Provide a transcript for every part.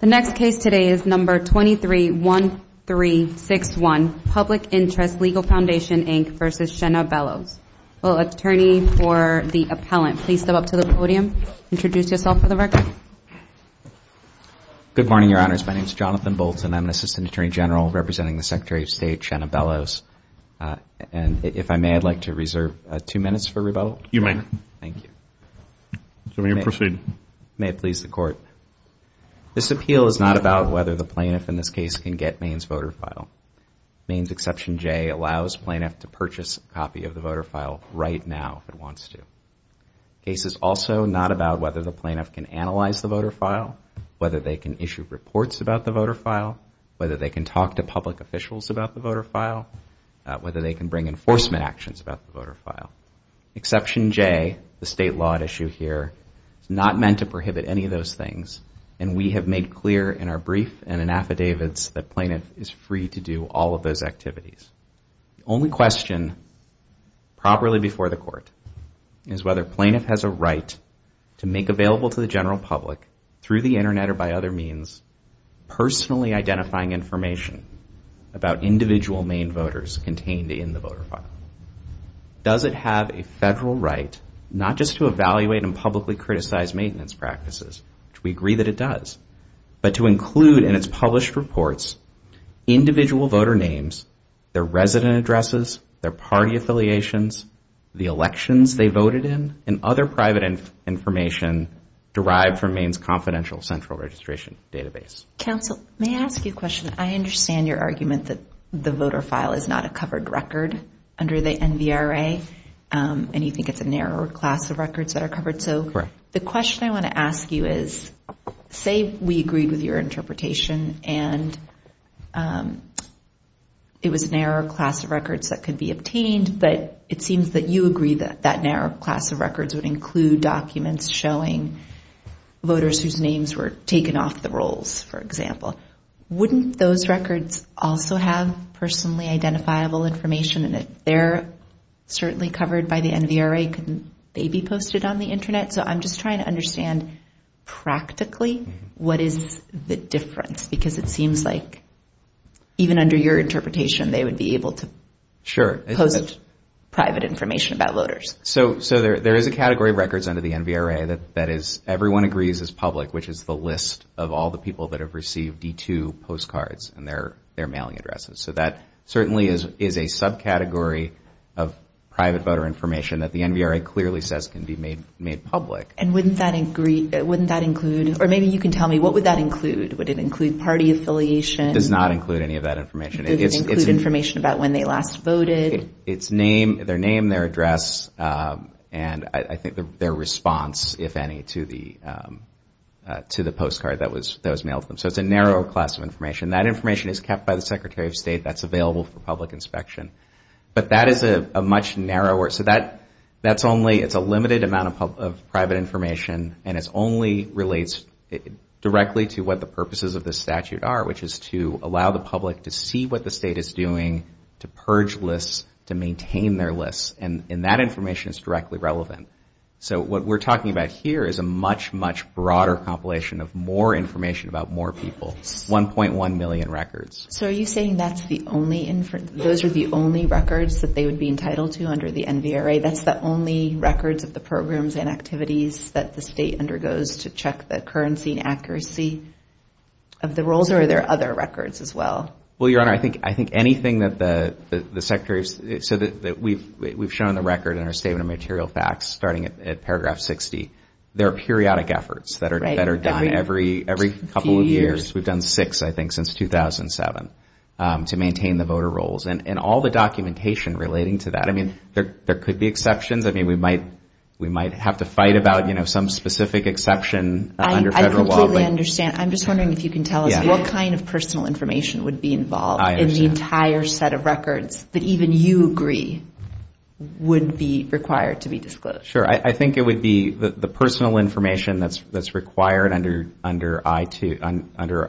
The next case today is number 231361, Public Interest Legal Foundation, Inc. v. Shanna Bellows. Will the attorney for the appellant please step up to the podium and introduce yourself for the record? Good morning, Your Honors. My name is Jonathan Bolton. I'm an Assistant Attorney General representing the Secretary of State, Shanna Bellows. And if I may, I'd like to reserve two minutes for rebuttal. You may. Thank you. So may you proceed. May it please the Court. This appeal is not about whether the plaintiff in this case can get Maine's voter file. Maine's Exception J allows plaintiff to purchase a copy of the voter file right now if it wants to. The case is also not about whether the plaintiff can analyze the voter file, whether they can issue reports about the voter file, whether they can talk to public officials about the voter file, whether they can bring enforcement actions about the voter file. Exception J, the state law at issue here, is not meant to prohibit any of those things. And we have made clear in our brief and in affidavits that plaintiff is free to do all of those activities. The only question properly before the Court is whether plaintiff has a right to make available to the general public through the Internet or by other means personally identifying information about individual Maine voters contained in the voter file. Does it have a federal right, not just to evaluate and publicly criticize maintenance practices, which we agree that it does, but to include in its published reports individual voter names, their resident addresses, their party affiliations, the elections they voted in, and other private information derived from Maine's Confidential Central Registration Database? Counsel, may I ask you a question? I understand your argument that the voter file is not a covered record under the NVRA, and you think it's a narrow class of records that are covered. So the question I want to ask you is, say we agreed with your interpretation and it was a narrow class of records that could be obtained, but it seems that you agree that that narrow class of records would include documents showing voters whose names were taken off the rolls, for example. Wouldn't those records also have personally identifiable information, and if they're certainly covered by the NVRA, couldn't they be posted on the Internet? So I'm just trying to understand, practically, what is the difference? Because it seems like, even under your interpretation, they would be able to post private information about voters. Sure. So there is a category of records under the NVRA that everyone agrees is public, which is the list of all the people that have received D2 postcards and their mailing addresses. So that certainly is a subcategory of private voter information that the NVRA clearly says can be made public. And wouldn't that include, or maybe you can tell me, what would that include? Would it include party affiliation? It does not include any of that information. Does it include information about when they last voted? It's name, their name, their address, and I think their response, if any, to the postcard that was mailed to them. So it's a narrow class of information. That information is kept by the Secretary of State. That's available for public inspection. But that is a much narrower, so that's only, it's a limited amount of private information, and it only relates directly to what the purposes of the statute are, which is to allow the to maintain their lists, and that information is directly relevant. So what we're talking about here is a much, much broader compilation of more information about more people, 1.1 million records. So are you saying that's the only, those are the only records that they would be entitled to under the NVRA? That's the only records of the programs and activities that the state undergoes to check the currency and accuracy of the rolls, or are there other records as well? Well, Your Honor, I think anything that the Secretary, so that we've shown the record in our Statement of Material Facts, starting at paragraph 60. There are periodic efforts that are done every couple of years. We've done six, I think, since 2007 to maintain the voter rolls, and all the documentation relating to that. I mean, there could be exceptions. I mean, we might have to fight about, you know, some specific exception under federal law. I completely understand. I'm just wondering if you can tell us what kind of personal information would be involved in the entire set of records that even you agree would be required to be disclosed. Sure. I think it would be the personal information that's required under I2,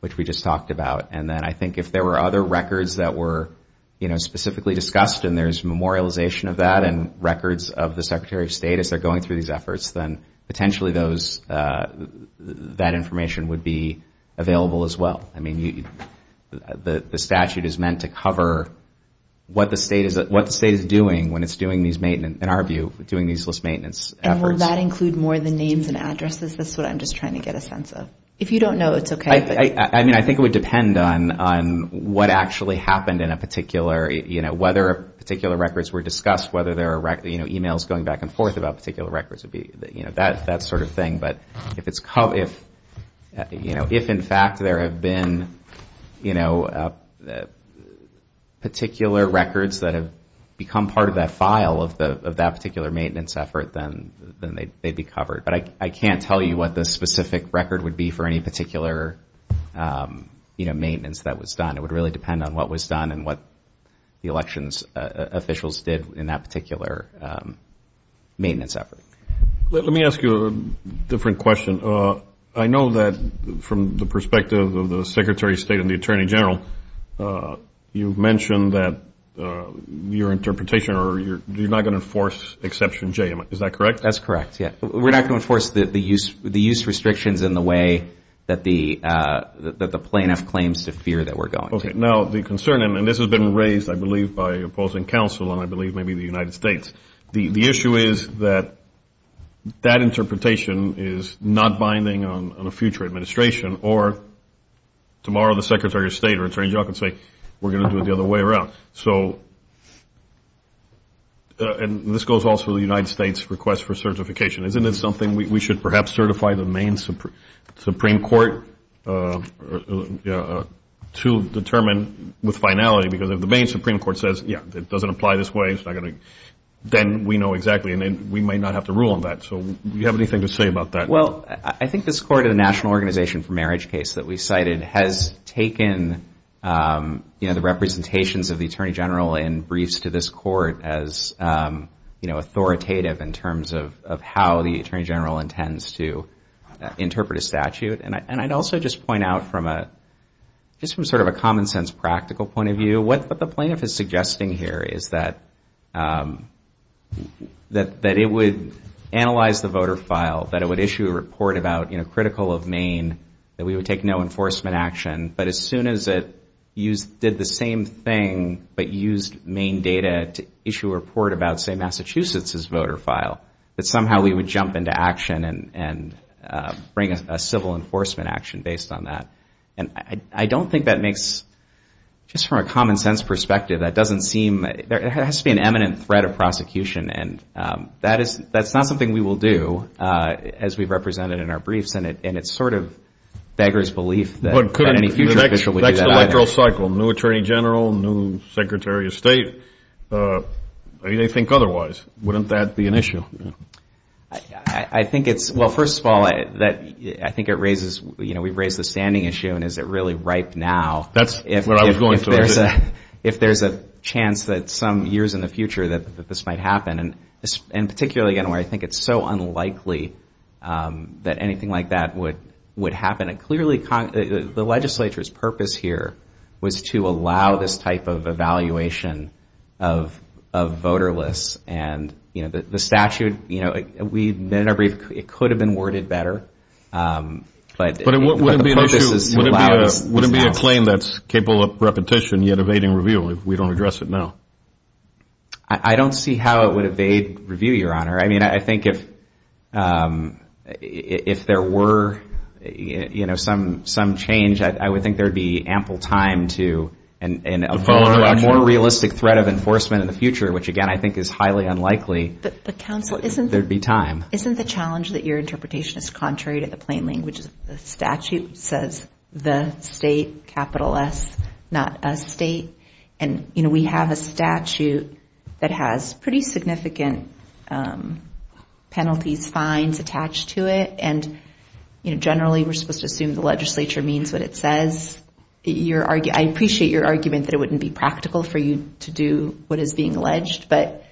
which we just talked about. And then I think if there were other records that were, you know, specifically discussed and there's memorialization of that and records of the Secretary of State as they're going through these efforts, then potentially those, that information would be available as well. I mean, the statute is meant to cover what the state is doing when it's doing these maintenance, in our view, doing these list maintenance efforts. And will that include more of the names and addresses? That's what I'm just trying to get a sense of. If you don't know, it's okay. I mean, I think it would depend on what actually happened in a particular, you know, whether a particular records were discussed, whether there are, you know, emails going back and forth, whether the records would be, you know, that sort of thing. But if it's covered, if, you know, if in fact there have been, you know, particular records that have become part of that file of that particular maintenance effort, then they'd be covered. But I can't tell you what the specific record would be for any particular, you know, maintenance that was done. It would really depend on what was done and what the election officials did in that particular maintenance effort. Let me ask you a different question. I know that from the perspective of the Secretary of State and the Attorney General, you mentioned that your interpretation or you're not going to enforce Exception J. Is that correct? That's correct. Yeah. We're not going to enforce the use restrictions in the way that the plaintiff claims to fear that we're going to. Okay. Now, the concern, and this has been raised, I believe, by opposing counsel and I believe maybe the United States, the issue is that that interpretation is not binding on a future administration or tomorrow the Secretary of State or Attorney General could say we're going to do it the other way around. So and this goes also to the United States' request for certification. Isn't it something we should perhaps certify the Maine Supreme Court to determine with finality because if the Maine Supreme Court says, yeah, it doesn't apply this way, it's not going to, then we know exactly and then we might not have to rule on that. So do you have anything to say about that? Well, I think this court in the National Organization for Marriage case that we cited has taken the representations of the Attorney General in briefs to this court as authoritative in terms of how the Attorney General intends to interpret a statute. And I'd also just point out from a, just from sort of a common sense practical point of view, that it would analyze the voter file, that it would issue a report about, you know, critical of Maine, that we would take no enforcement action, but as soon as it did the same thing but used Maine data to issue a report about, say, Massachusetts' voter file, that somehow we would jump into action and bring a civil enforcement action based on that. And I don't think that makes, just from a common sense perspective, that doesn't seem, there has to be an eminent threat of prosecution and that's not something we will do as we've represented in our briefs and it's sort of beggar's belief that any future official would do that. But could an electoral cycle, new Attorney General, new Secretary of State, they think otherwise. Wouldn't that be an issue? I think it's, well, first of all, I think it raises, you know, we've raised the standing issue and is it really ripe now? That's what I was going to say. If there's a chance that some years in the future that this might happen, and particularly, again, where I think it's so unlikely that anything like that would happen, it clearly, the legislature's purpose here was to allow this type of evaluation of voter lists and, you know, the statute, you know, we've been in our brief, it could have been worded better, but the purpose is to allow this to happen. How do you claim that's capable of repetition yet evading review if we don't address it now? I don't see how it would evade review, Your Honor. I mean, I think if there were, you know, some change, I would think there would be ample time to, in a more realistic threat of enforcement in the future, which, again, I think is highly unlikely, there'd be time. But, Counsel, isn't the challenge that your interpretation is contrary to the plain language of the statute, which says the state, capital S, not a state? And, you know, we have a statute that has pretty significant penalties, fines attached to it. And, you know, generally, we're supposed to assume the legislature means what it says. I appreciate your argument that it wouldn't be practical for you to do what is being alleged, but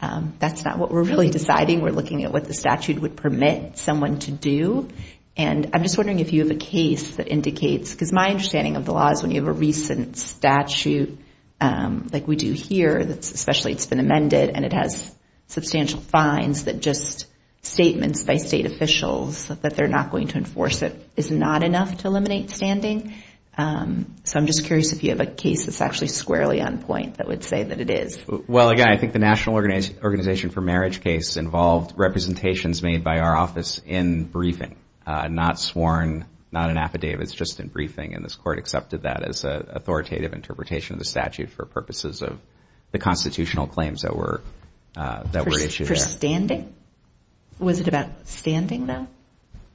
that's not what we're really deciding. We're looking at what the statute would permit someone to do. And I'm just wondering if you have a case that indicates, because my understanding of the law is when you have a recent statute like we do here, especially it's been amended, and it has substantial fines that just statements by state officials that they're not going to enforce it is not enough to eliminate standing. So I'm just curious if you have a case that's actually squarely on point that would say that it is. Well, again, I think the National Organization for Marriage case involved representations made by our office in briefing, not sworn, not an affidavit. It's just in briefing. And this court accepted that as an authoritative interpretation of the statute for purposes of the constitutional claims that were issued. For standing? Was it about standing, though,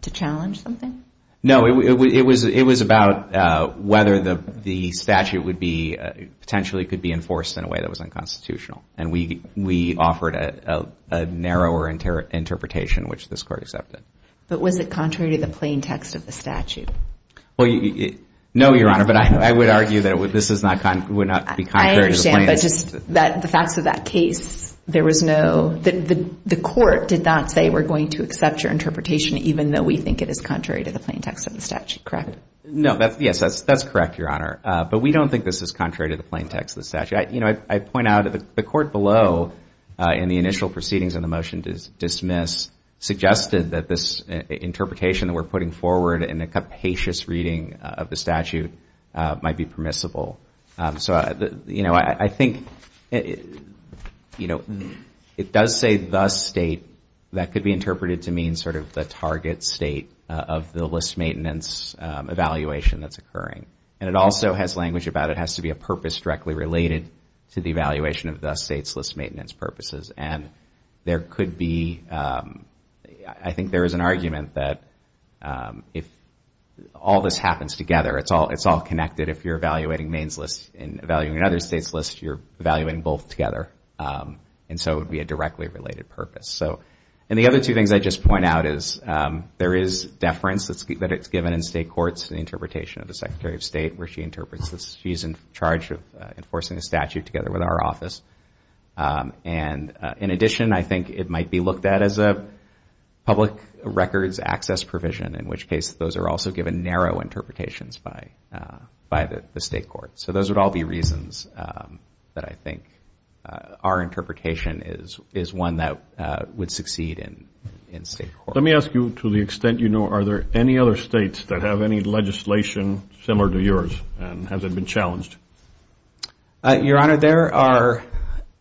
to challenge something? No, it was about whether the statute would be, potentially could be enforced in a way that was unconstitutional. And we offered a narrower interpretation, which this court accepted. But was it contrary to the plain text of the statute? Well, no, Your Honor. But I would argue that this is not, would not be contrary to the plain text. I understand, but just the facts of that case, there was no, the court did not say, we're going to accept your interpretation, even though we think it is contrary to the plain text of the statute, correct? No, yes, that's correct, Your Honor. But we don't think this is contrary to the plain text of the statute. You know, I point out that the court below, in the initial proceedings on the motion to dismiss, suggested that this interpretation that we're putting forward in a capacious reading of the statute might be permissible. So, you know, I think, you know, it does say the state, that could be interpreted to mean sort of the target state of the list maintenance evaluation that's occurring. And it also has language about it has to be a purpose directly related to the evaluation of the state's list maintenance purposes. And there could be, I think there is an argument that if all this happens together, it's all connected. If you're evaluating Maine's list and evaluating another state's list, you're evaluating both together. And so it would be a directly related purpose. So, and the other two things I just point out is there is deference that it's given in state courts and interpretation of the Secretary of State where she interprets this. She's in charge of enforcing a statute together with our office. And in addition, I think it might be looked at as a public records access provision, in which case those are also given narrow interpretations by the state court. So those would all be reasons that I think our interpretation is one that would succeed in state court. Let me ask you, to the extent you know, are there any other states that have any legislation similar to yours? And has it been challenged? Your Honor, there are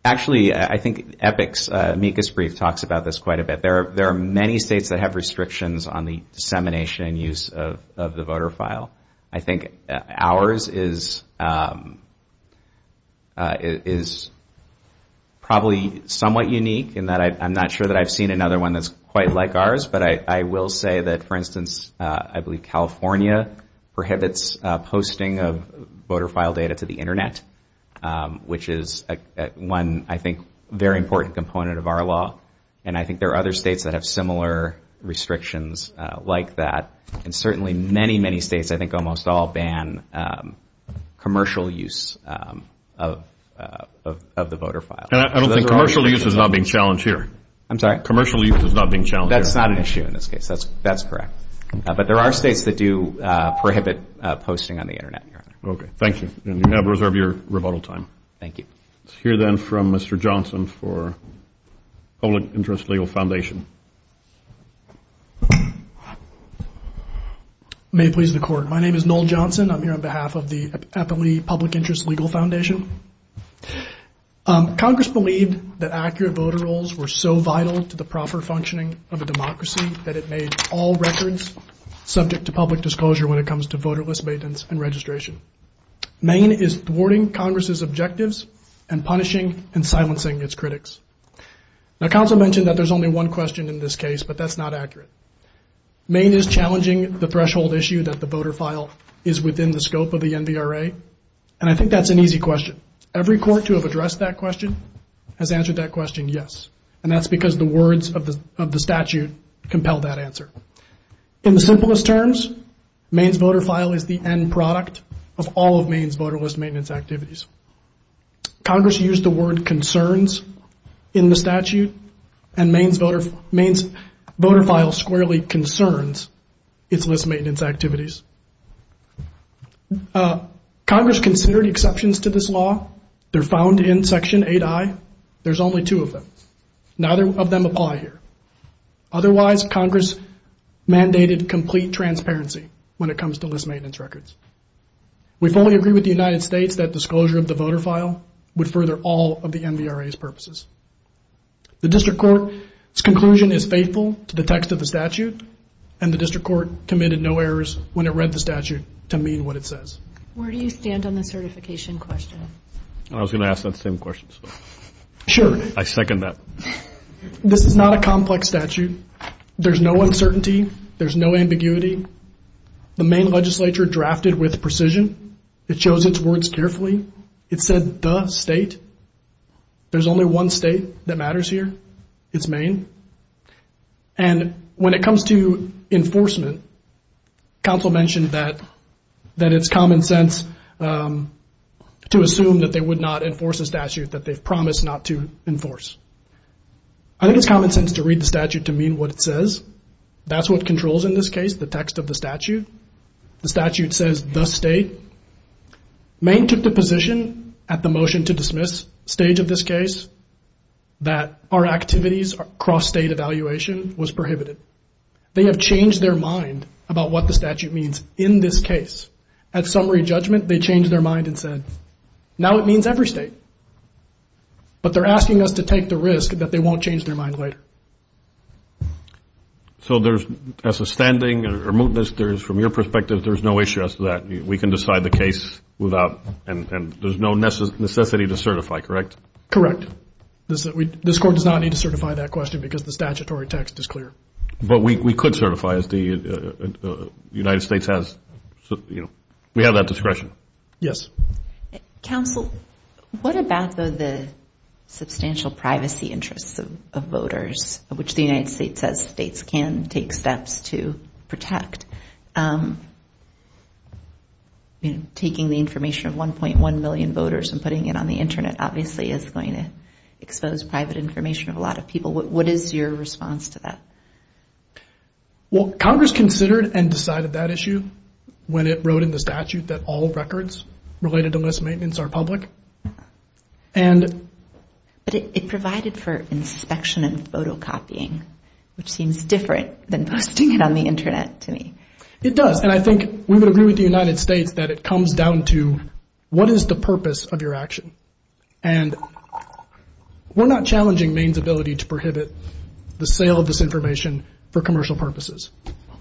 actually, I think EPIC's amicus brief talks about this quite a bit. There are many states that have restrictions on the dissemination and use of the voter file. I think ours is probably somewhat unique in that I'm not sure that I've seen another one that's quite like ours. But I will say that, for instance, I believe California prohibits posting of voter file data to the Internet, which is one, I think, very important component of our law. And I think there are other states that have similar restrictions like that. And certainly many, many states, I think almost all ban commercial use of the voter file. And I don't think commercial use is not being challenged here. I'm sorry? Commercial use is not being challenged. That's not an issue in this case. That's correct. But there are states that do prohibit posting on the Internet, Your Honor. OK. Thank you. And you have reserved your rebuttal time. Thank you. Let's hear then from Mr. Johnson for Public Interest Legal Foundation. May it please the Court. My name is Noel Johnson. I'm here on behalf of the Eppley Public Interest Legal Foundation. Congress believed that accurate voter rolls were so vital to the proper functioning of a democracy that it made all records subject to public disclosure when it comes to voterless maintenance and registration. Maine is thwarting Congress's objectives and punishing and silencing its critics. Now, counsel mentioned that there's only one question in this case, but that's not accurate. Maine is challenging the threshold issue that the voter file is within the scope of the NBRA. And I think that's an easy question. Every court to have addressed that question has answered that question, yes. And that's because the words of the statute compel that answer. In the simplest terms, Maine's voter file is the end product of all of Maine's voterless maintenance activities. Congress used the word concerns in the statute and Maine's voter file squarely concerns its list maintenance activities. Congress considered exceptions to this law. They're found in Section 8I. There's only two of them. Neither of them apply here. Otherwise, Congress mandated complete transparency when it comes to list maintenance records. We fully agree with the United States that disclosure of the voter file would further all of the NBRA's purposes. The district court's conclusion is faithful to the text of the statute, and the district court committed no errors when it read the statute to mean what it says. Where do you stand on the certification question? I was going to ask that same question. Sure. I second that. This is not a complex statute. There's no uncertainty. There's no ambiguity. The Maine legislature drafted with precision. It chose its words carefully. It said the state. There's only one state that matters here. It's Maine. And when it comes to enforcement, counsel mentioned that it's common sense to assume that they would not enforce a statute that they've promised not to enforce. I think it's common sense to read the statute to mean what it says. That's what controls in this case, the text of the statute. The statute says the state. Maine took the position at the motion to dismiss stage of this case that our activities cross-state evaluation was prohibited. They have changed their mind about what the statute means in this case. At summary judgment, they changed their mind and said, now it means every state. But they're asking us to take the risk that they won't change their mind later. So there's, as a standing, there's, from your perspective, there's no issue as to that. We can decide the case without, and there's no necessity to certify, correct? Correct. This court does not need to certify that question because the statutory text is clear. But we could certify as the United States has, you know, we have that discretion. Yes. Counsel, what about the substantial privacy interests of voters, which the United States says states can take steps to protect? Taking the information of 1.1 million voters and putting it on the internet, obviously is going to expose private information of a lot of people. What is your response to that? Well, Congress considered and decided that issue when it wrote in the statute that all records related to list maintenance are public. And. But it provided for inspection and photocopying, which seems different than posting it on the internet to me. It does. And I think we would agree with the United States that it comes down to what is the purpose of your action? And we're not challenging Maine's ability to prohibit the sale of this information for commercial purposes,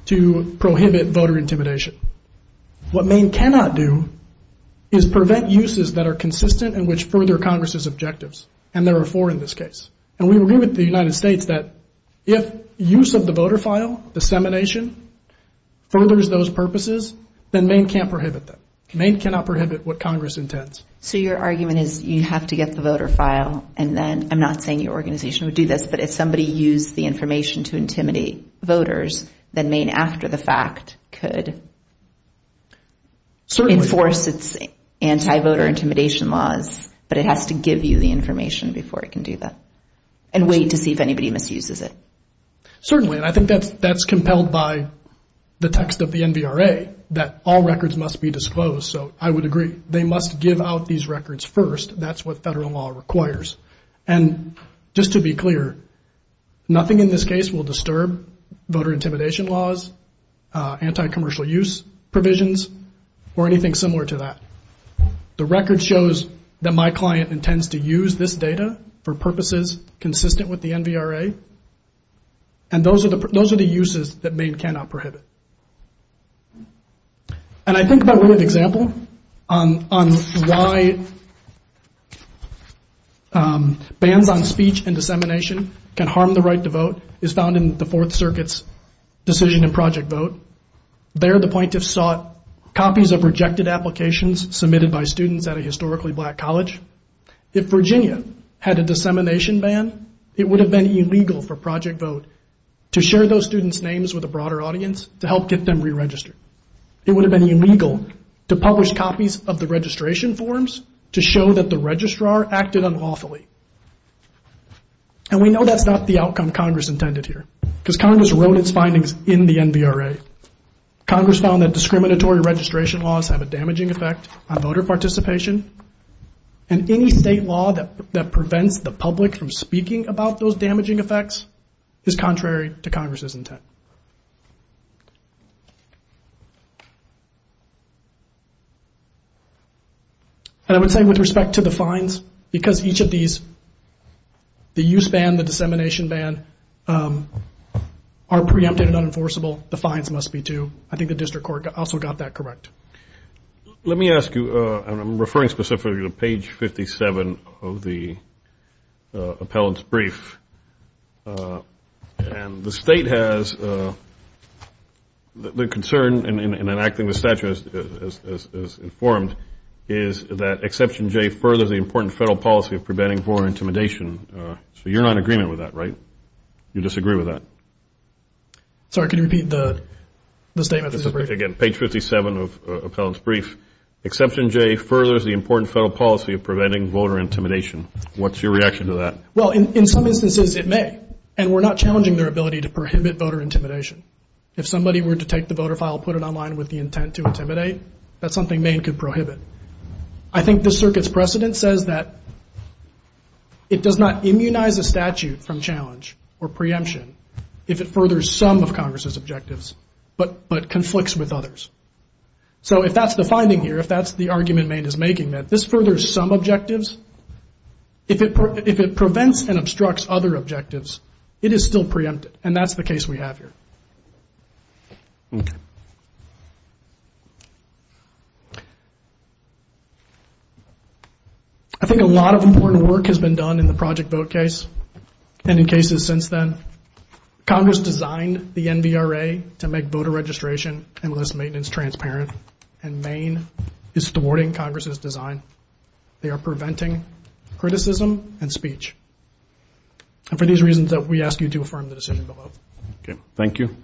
to prohibit voter intimidation. What Maine cannot do is prevent uses that are consistent and which further Congress's objectives. And there are four in this case. And we agree with the United States that if use of the voter file dissemination furthers those purposes, then Maine can't prohibit them. Maine cannot prohibit what Congress intends. So your argument is you have to get the voter file. And then I'm not saying your organization would do this, but if somebody used the information to intimidate voters, then Maine, after the fact, could. Certainly. Enforce its anti-voter intimidation laws. But it has to give you the information before it can do that. And wait to see if anybody misuses it. Certainly. And I think that's compelled by the text of the NVRA that all records must be disclosed. So I would agree. They must give out these records first. That's what federal law requires. And just to be clear, nothing in this case will disturb voter intimidation laws, anti-commercial use provisions, or anything similar to that. The record shows that my client intends to use this data for purposes consistent with the NVRA. And those are the uses that Maine cannot prohibit. And I think about one example on why bans on speech and dissemination can harm the right to vote is found in the Fourth Circuit's decision in Project Vote. There, the plaintiffs sought copies of rejected applications submitted by students at a historically black college. If Virginia had a dissemination ban, it would have been illegal for Project Vote to share those students' names with a broader audience to help get them re-registered. It would have been illegal to publish copies of the registration forms to show that the registrar acted unlawfully. And we know that's not the outcome Congress intended here because Congress wrote its findings in the NVRA. Congress found that discriminatory registration laws have a damaging effect on voter participation. And any state law that prevents the public from speaking about those damaging effects is contrary to Congress's intent. And I would say with respect to the fines, because each of these, the use ban, the dissemination ban are preempted and unenforceable, the fines must be too. I think the district court also got that correct. Let me ask you, and I'm referring specifically to page 57 of the appellant's brief. And the state has, the concern in enacting the statute as informed is that Exception J furthers the important federal policy of preventing voter intimidation. So you're not in agreement with that, right? You disagree with that? Sorry, can you repeat the statement? This is, again, page 57 of the appellant's brief. Exception J furthers the important federal policy of preventing voter intimidation. What's your reaction to that? Well, in some instances it may, and we're not challenging their ability to prohibit voter intimidation. If somebody were to take the voter file, put it online with the intent to intimidate, that's something Maine could prohibit. I think the circuit's precedent says that it does not immunize a statute from challenge or preemption if it furthers some of Congress's objectives, but conflicts with others. So if that's the finding here, if that's the argument Maine is making, that this furthers some objectives, if it prevents and obstructs other objectives, it is still preempted, and that's the case we have here. I think a lot of important work has been done in the Project Vote case, and in cases since then. Congress designed the NVRA to make voter registration and list maintenance transparent, and Maine is thwarting Congress's design. They are preventing criticism and speech, and for these reasons that we ask you to affirm the decision below. Okay, thank you.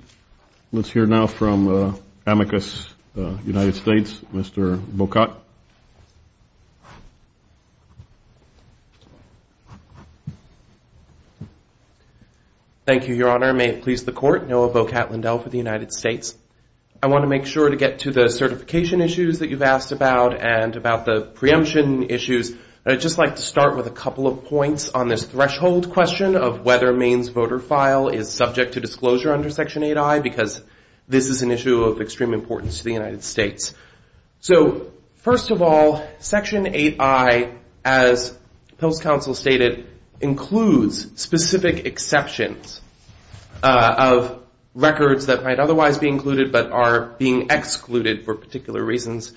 Let's hear now from Amicus United States, Mr. Bocat. Thank you, Your Honor. May it please the Court, Noah Bocat-Lindell for the United States. I want to make sure to get to the certification issues that you've asked about and about the preemption issues, but I'd just like to start with a couple of points on this threshold question of whether Maine's voter file is subject to disclosure under Section 8I because this is an issue of extreme importance to the United States. So first of all, Section 8I, as the Pills Council stated, includes specific exceptions of records that might otherwise be included but are being excluded for particular reasons.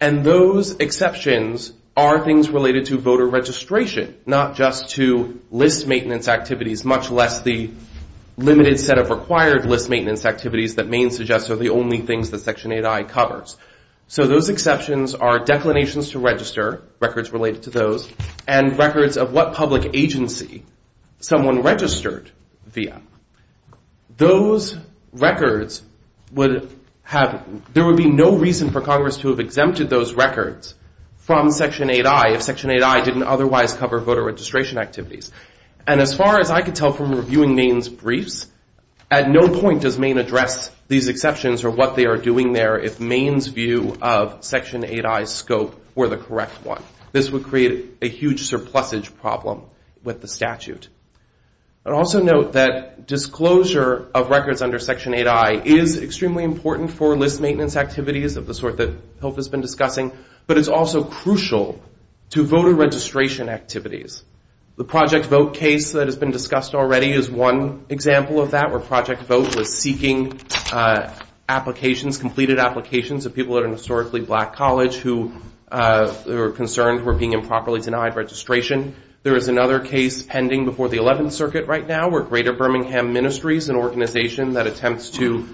And those exceptions are things related to voter registration, not just to list maintenance activities, much less the limited set of required list maintenance activities that Maine suggests are the only things that Section 8I covers. So those exceptions are declinations to register, records related to those, and records of what public agency someone registered via. Those records would have, there would be no reason for Congress to have exempted those records from Section 8I if Section 8I didn't otherwise cover voter registration activities. And as far as I could tell from reviewing Maine's briefs, at no point does Maine address these exceptions or what they are doing there if Maine's view of Section 8I's scope were the correct one. This would create a huge surplusage problem with the statute. I'd also note that disclosure of records under Section 8I is extremely important for list maintenance activities of the sort that PILF has been discussing, but it's also crucial to voter registration activities. The Project Vote case that has been discussed already is one example of that, where Project Vote was seeking applications, completed applications of people at a historically black college who were concerned were being improperly denied registration. There is another case pending before the 11th Circuit right now where Greater Birmingham Ministries, an organization that attempts to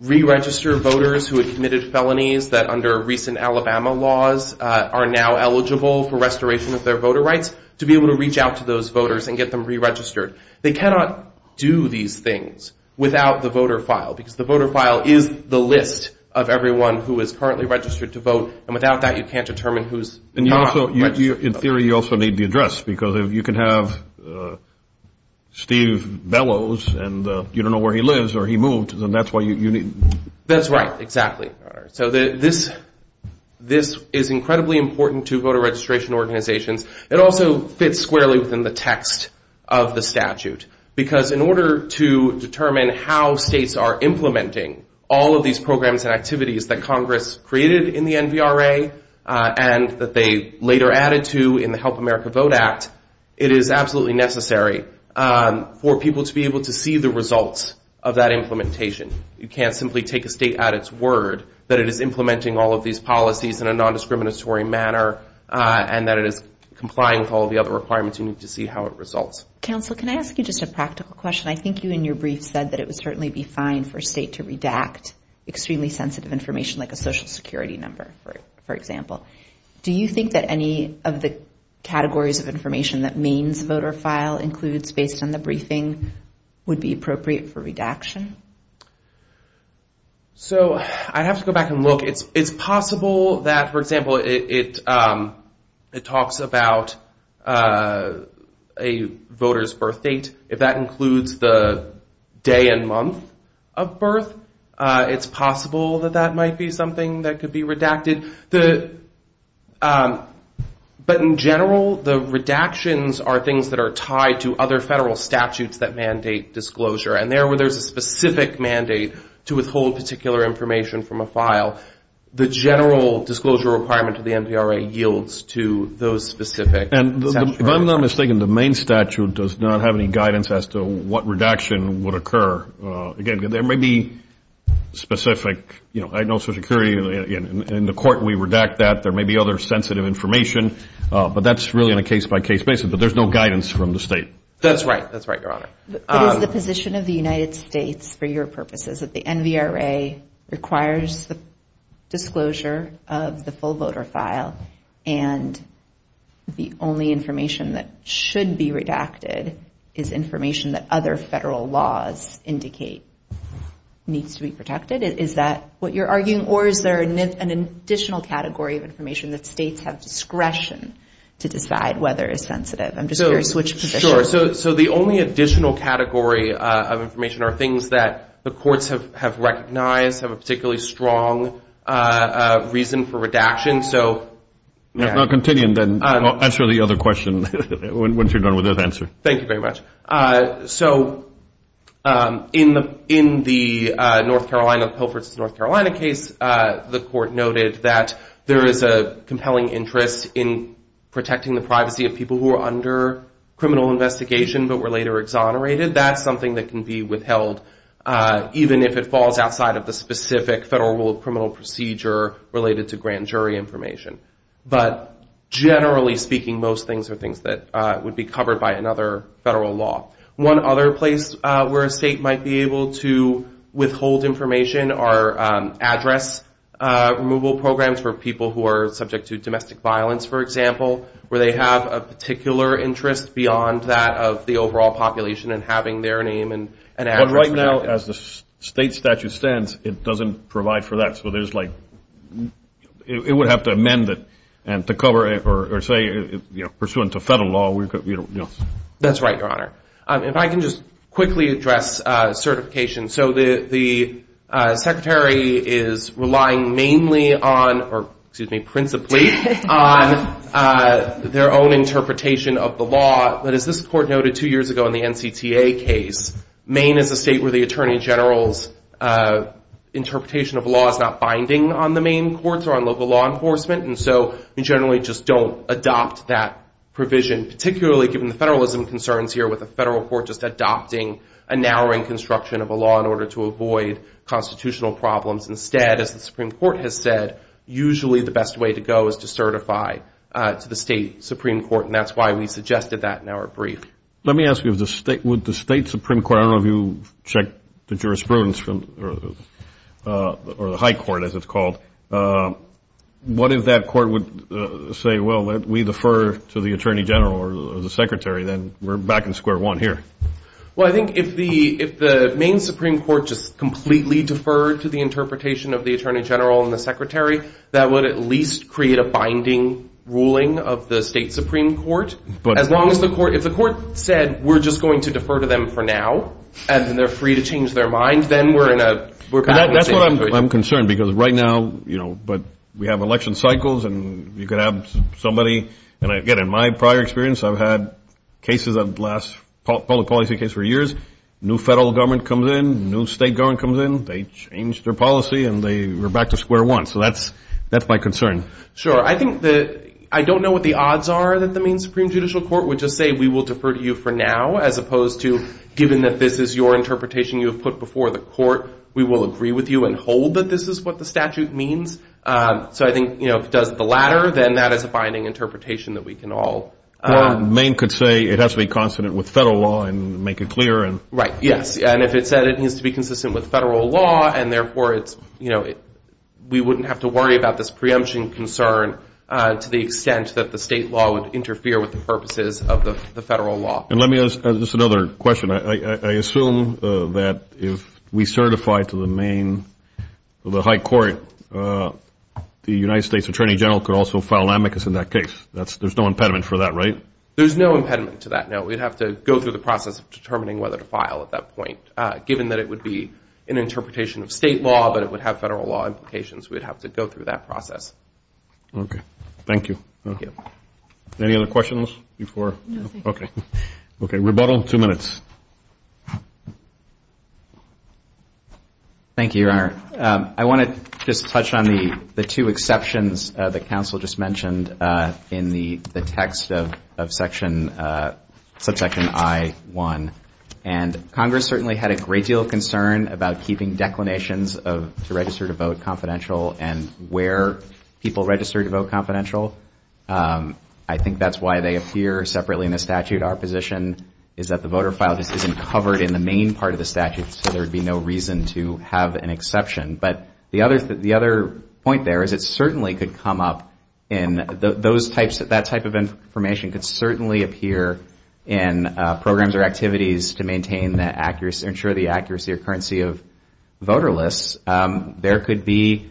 re-register voters who had committed felonies that under recent Alabama laws are now eligible for restoration of their voter rights to be able to reach out to those voters and get them re-registered. They cannot do these things without the voter file, because the voter file is the list of everyone who is currently registered to vote, and without that you can't determine who's not registered. In theory, you also need the address, because if you can have Steve Bellows and you don't know where he lives or he moved, then that's why you need... That's right, exactly. This is incredibly important to voter registration organizations. It also fits squarely within the text of the statute, because in order to determine how states are implementing all of these programs and activities that Congress created in the NVRA and that they later added to in the Help America Vote Act, it is absolutely necessary for people to be able to see the results of that implementation. You can't simply take a state at its word that it is implementing all of these policies in a non-discriminatory manner and that it is complying with all the other requirements. You need to see how it results. Counsel, can I ask you just a practical question? I think you in your brief said that it would certainly be fine for a state to redact extremely sensitive information, like a social security number, for example. Do you think that any of the categories of information that Maine's voter file includes based on the briefing would be appropriate for redaction? So I have to go back and look. It's possible that, for example, it talks about a voter's birth date. If that includes the day and month of birth, it's possible that that might be something that could be redacted. But in general, the redactions are things that are tied to other federal statutes that mandate disclosure. And there, where there's a specific mandate to withhold particular information from a file, the general disclosure requirement of the MPRA yields to those specific statutes. And if I'm not mistaken, the Maine statute does not have any guidance as to what redaction would occur. Again, there may be specific social security. In the court, we redact that. There may be other sensitive information. But that's really on a case-by-case basis. But there's no guidance from the state. That's right. That's right, Your Honor. But is the position of the United States, for your purposes, that the MVRA requires the disclosure of the full voter file and the only information that should be redacted is information that other federal laws indicate needs to be protected? Is that what you're arguing? Or is there an additional category of information that states have discretion to decide whether it's sensitive? I'm just curious which position. Sure. So the only additional category of information are things that the courts have recognized, have a particularly strong reason for redaction. So, yeah. I'll continue and then answer the other question once you're done with that answer. Thank you very much. So in the North Carolina, Pilfer's North Carolina case, the court noted that there is a compelling interest in protecting the privacy of people who are under criminal investigation but were later exonerated. That's something that can be withheld even if it falls outside of the specific federal rule of criminal procedure related to grand jury information. But generally speaking, most things would be covered by another federal law. One other place where a state might be able to withhold information are address removal programs for people who are subject to domestic violence, for example, where they have a particular interest beyond that of the overall population and having their name and address. But right now, as the state statute stands, it doesn't provide for that. So there's like, it would have to amend it to cover it or say, pursuant to federal law. That's right, Your Honor. If I can just quickly address certification. So the secretary is relying mainly on, or excuse me, principally on their own interpretation of the law. But as this court noted two years ago in the NCTA case, Maine is a state where the attorney general's interpretation of law is not binding on the Maine courts or on local law enforcement. And so we generally just don't adopt that provision, particularly given the federalism concerns here with the federal court just adopting a narrowing construction of a law in order to avoid constitutional problems. Instead, as the Supreme Court has said, usually the best way to go is to certify to the state Supreme Court. And that's why we suggested that in our brief. Let me ask you, would the state Supreme Court, I don't know if you checked the jurisprudence, or the high court, as it's called, what if that court would say, well, we defer to the attorney general or the secretary, then we're back in square one here? Well, I think if the Maine Supreme Court just completely deferred to the interpretation of the attorney general and the secretary, that would at least create a binding ruling of the state Supreme Court. But as long as the court, if the court said, we're just going to defer to them for now, and then they're free to change their mind, then we're in a, we're back in state. That's what I'm concerned. Because right now, but we have election cycles, and you could have somebody, and again, in my prior experience, I've had cases of the last public policy case for years, new federal government comes in, new state government comes in, they change their policy, and they were back to square one. So that's my concern. Sure. I think that I don't know what the odds are that the Maine Supreme Judicial Court would just say, we will defer to you for now, as opposed to, given that this is your interpretation you have put before the court, we will agree with you and hold that this is what the statute means. So I think if it does the latter, then that is a binding interpretation that we can all. Maine could say it has to be consonant with federal law and make it clear. Right, yes. And if it said it needs to be consistent with federal law, and therefore, we wouldn't have to worry about this preemption concern to the extent that the state law would interfere with the purposes of the federal law. And let me ask just another question. I assume that if we certify to the Maine, the high court, the United States Attorney General could also file amicus in that case. There's no impediment for that, right? There's no impediment to that, no. We'd have to go through the process of determining whether to file at that point. Given that it would be an interpretation of state law, but it would have federal law implications, we'd have to go through that process. OK, thank you. Any other questions before? OK. OK, rebuttal, two minutes. Thank you, Your Honor. I want to just touch on the two exceptions that counsel just mentioned in the text of subsection I-1. And Congress certainly had a great deal of concern about keeping declinations of to register to vote confidential and where people register to vote confidential. I think that's why they appear separately in the statute our position is that the voter file just isn't covered in the main part of the statute, so there would be no reason to have an exception. But the other point there is it certainly could come up in those types of that type of information could certainly appear in programs or activities to ensure the accuracy or currency of voter lists. There could be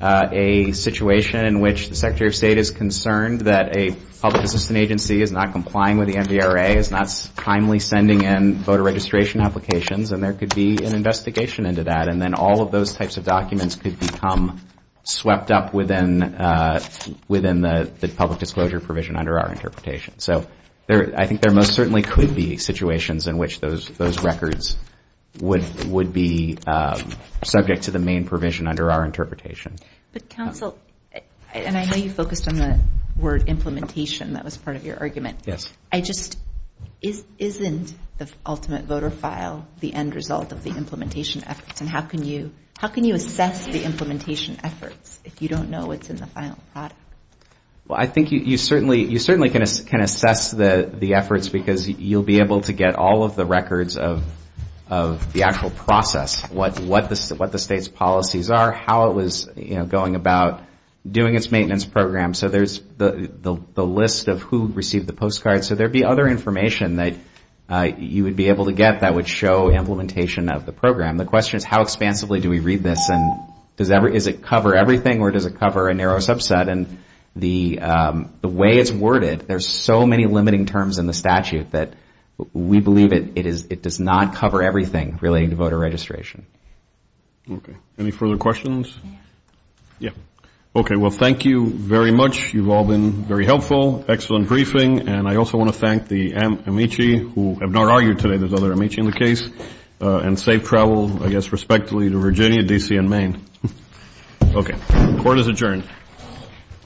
a situation in which the Secretary of State is concerned that a public assistant agency is not complying with the NVRA, is not timely sending in voter registration applications, and there could be an investigation into that. And then all of those types of documents could become swept up within the public disclosure provision under our interpretation. So I think there most certainly could be situations in which those records would be subject to the main provision under our interpretation. But counsel, and I know you focused on the word implementation. That was part of your argument. I just, isn't the ultimate voter file the end result of the implementation efforts? And how can you assess the implementation efforts if you don't know what's in the final product? Well, I think you certainly can assess the efforts because you'll be able to get all of the records of the actual process, what the state's policies are, how it was going about doing its maintenance program. So there's the list of who received the postcard. So there'd be other information that you would be able to get that would show implementation of the program. The question is, how expansively do we read this? And does it cover everything, or does it cover a narrow subset? And the way it's worded, there's so many limiting terms in the statute that we believe it does not cover everything relating to voter registration. OK. Any further questions? Yeah. OK. Well, thank you very much. You've all been very helpful. Excellent briefing. And I also want to thank the amici who have not argued today. There's other amici in the case. And safe travel, I guess, respectfully to Virginia, DC, and Maine. OK. Court is adjourned.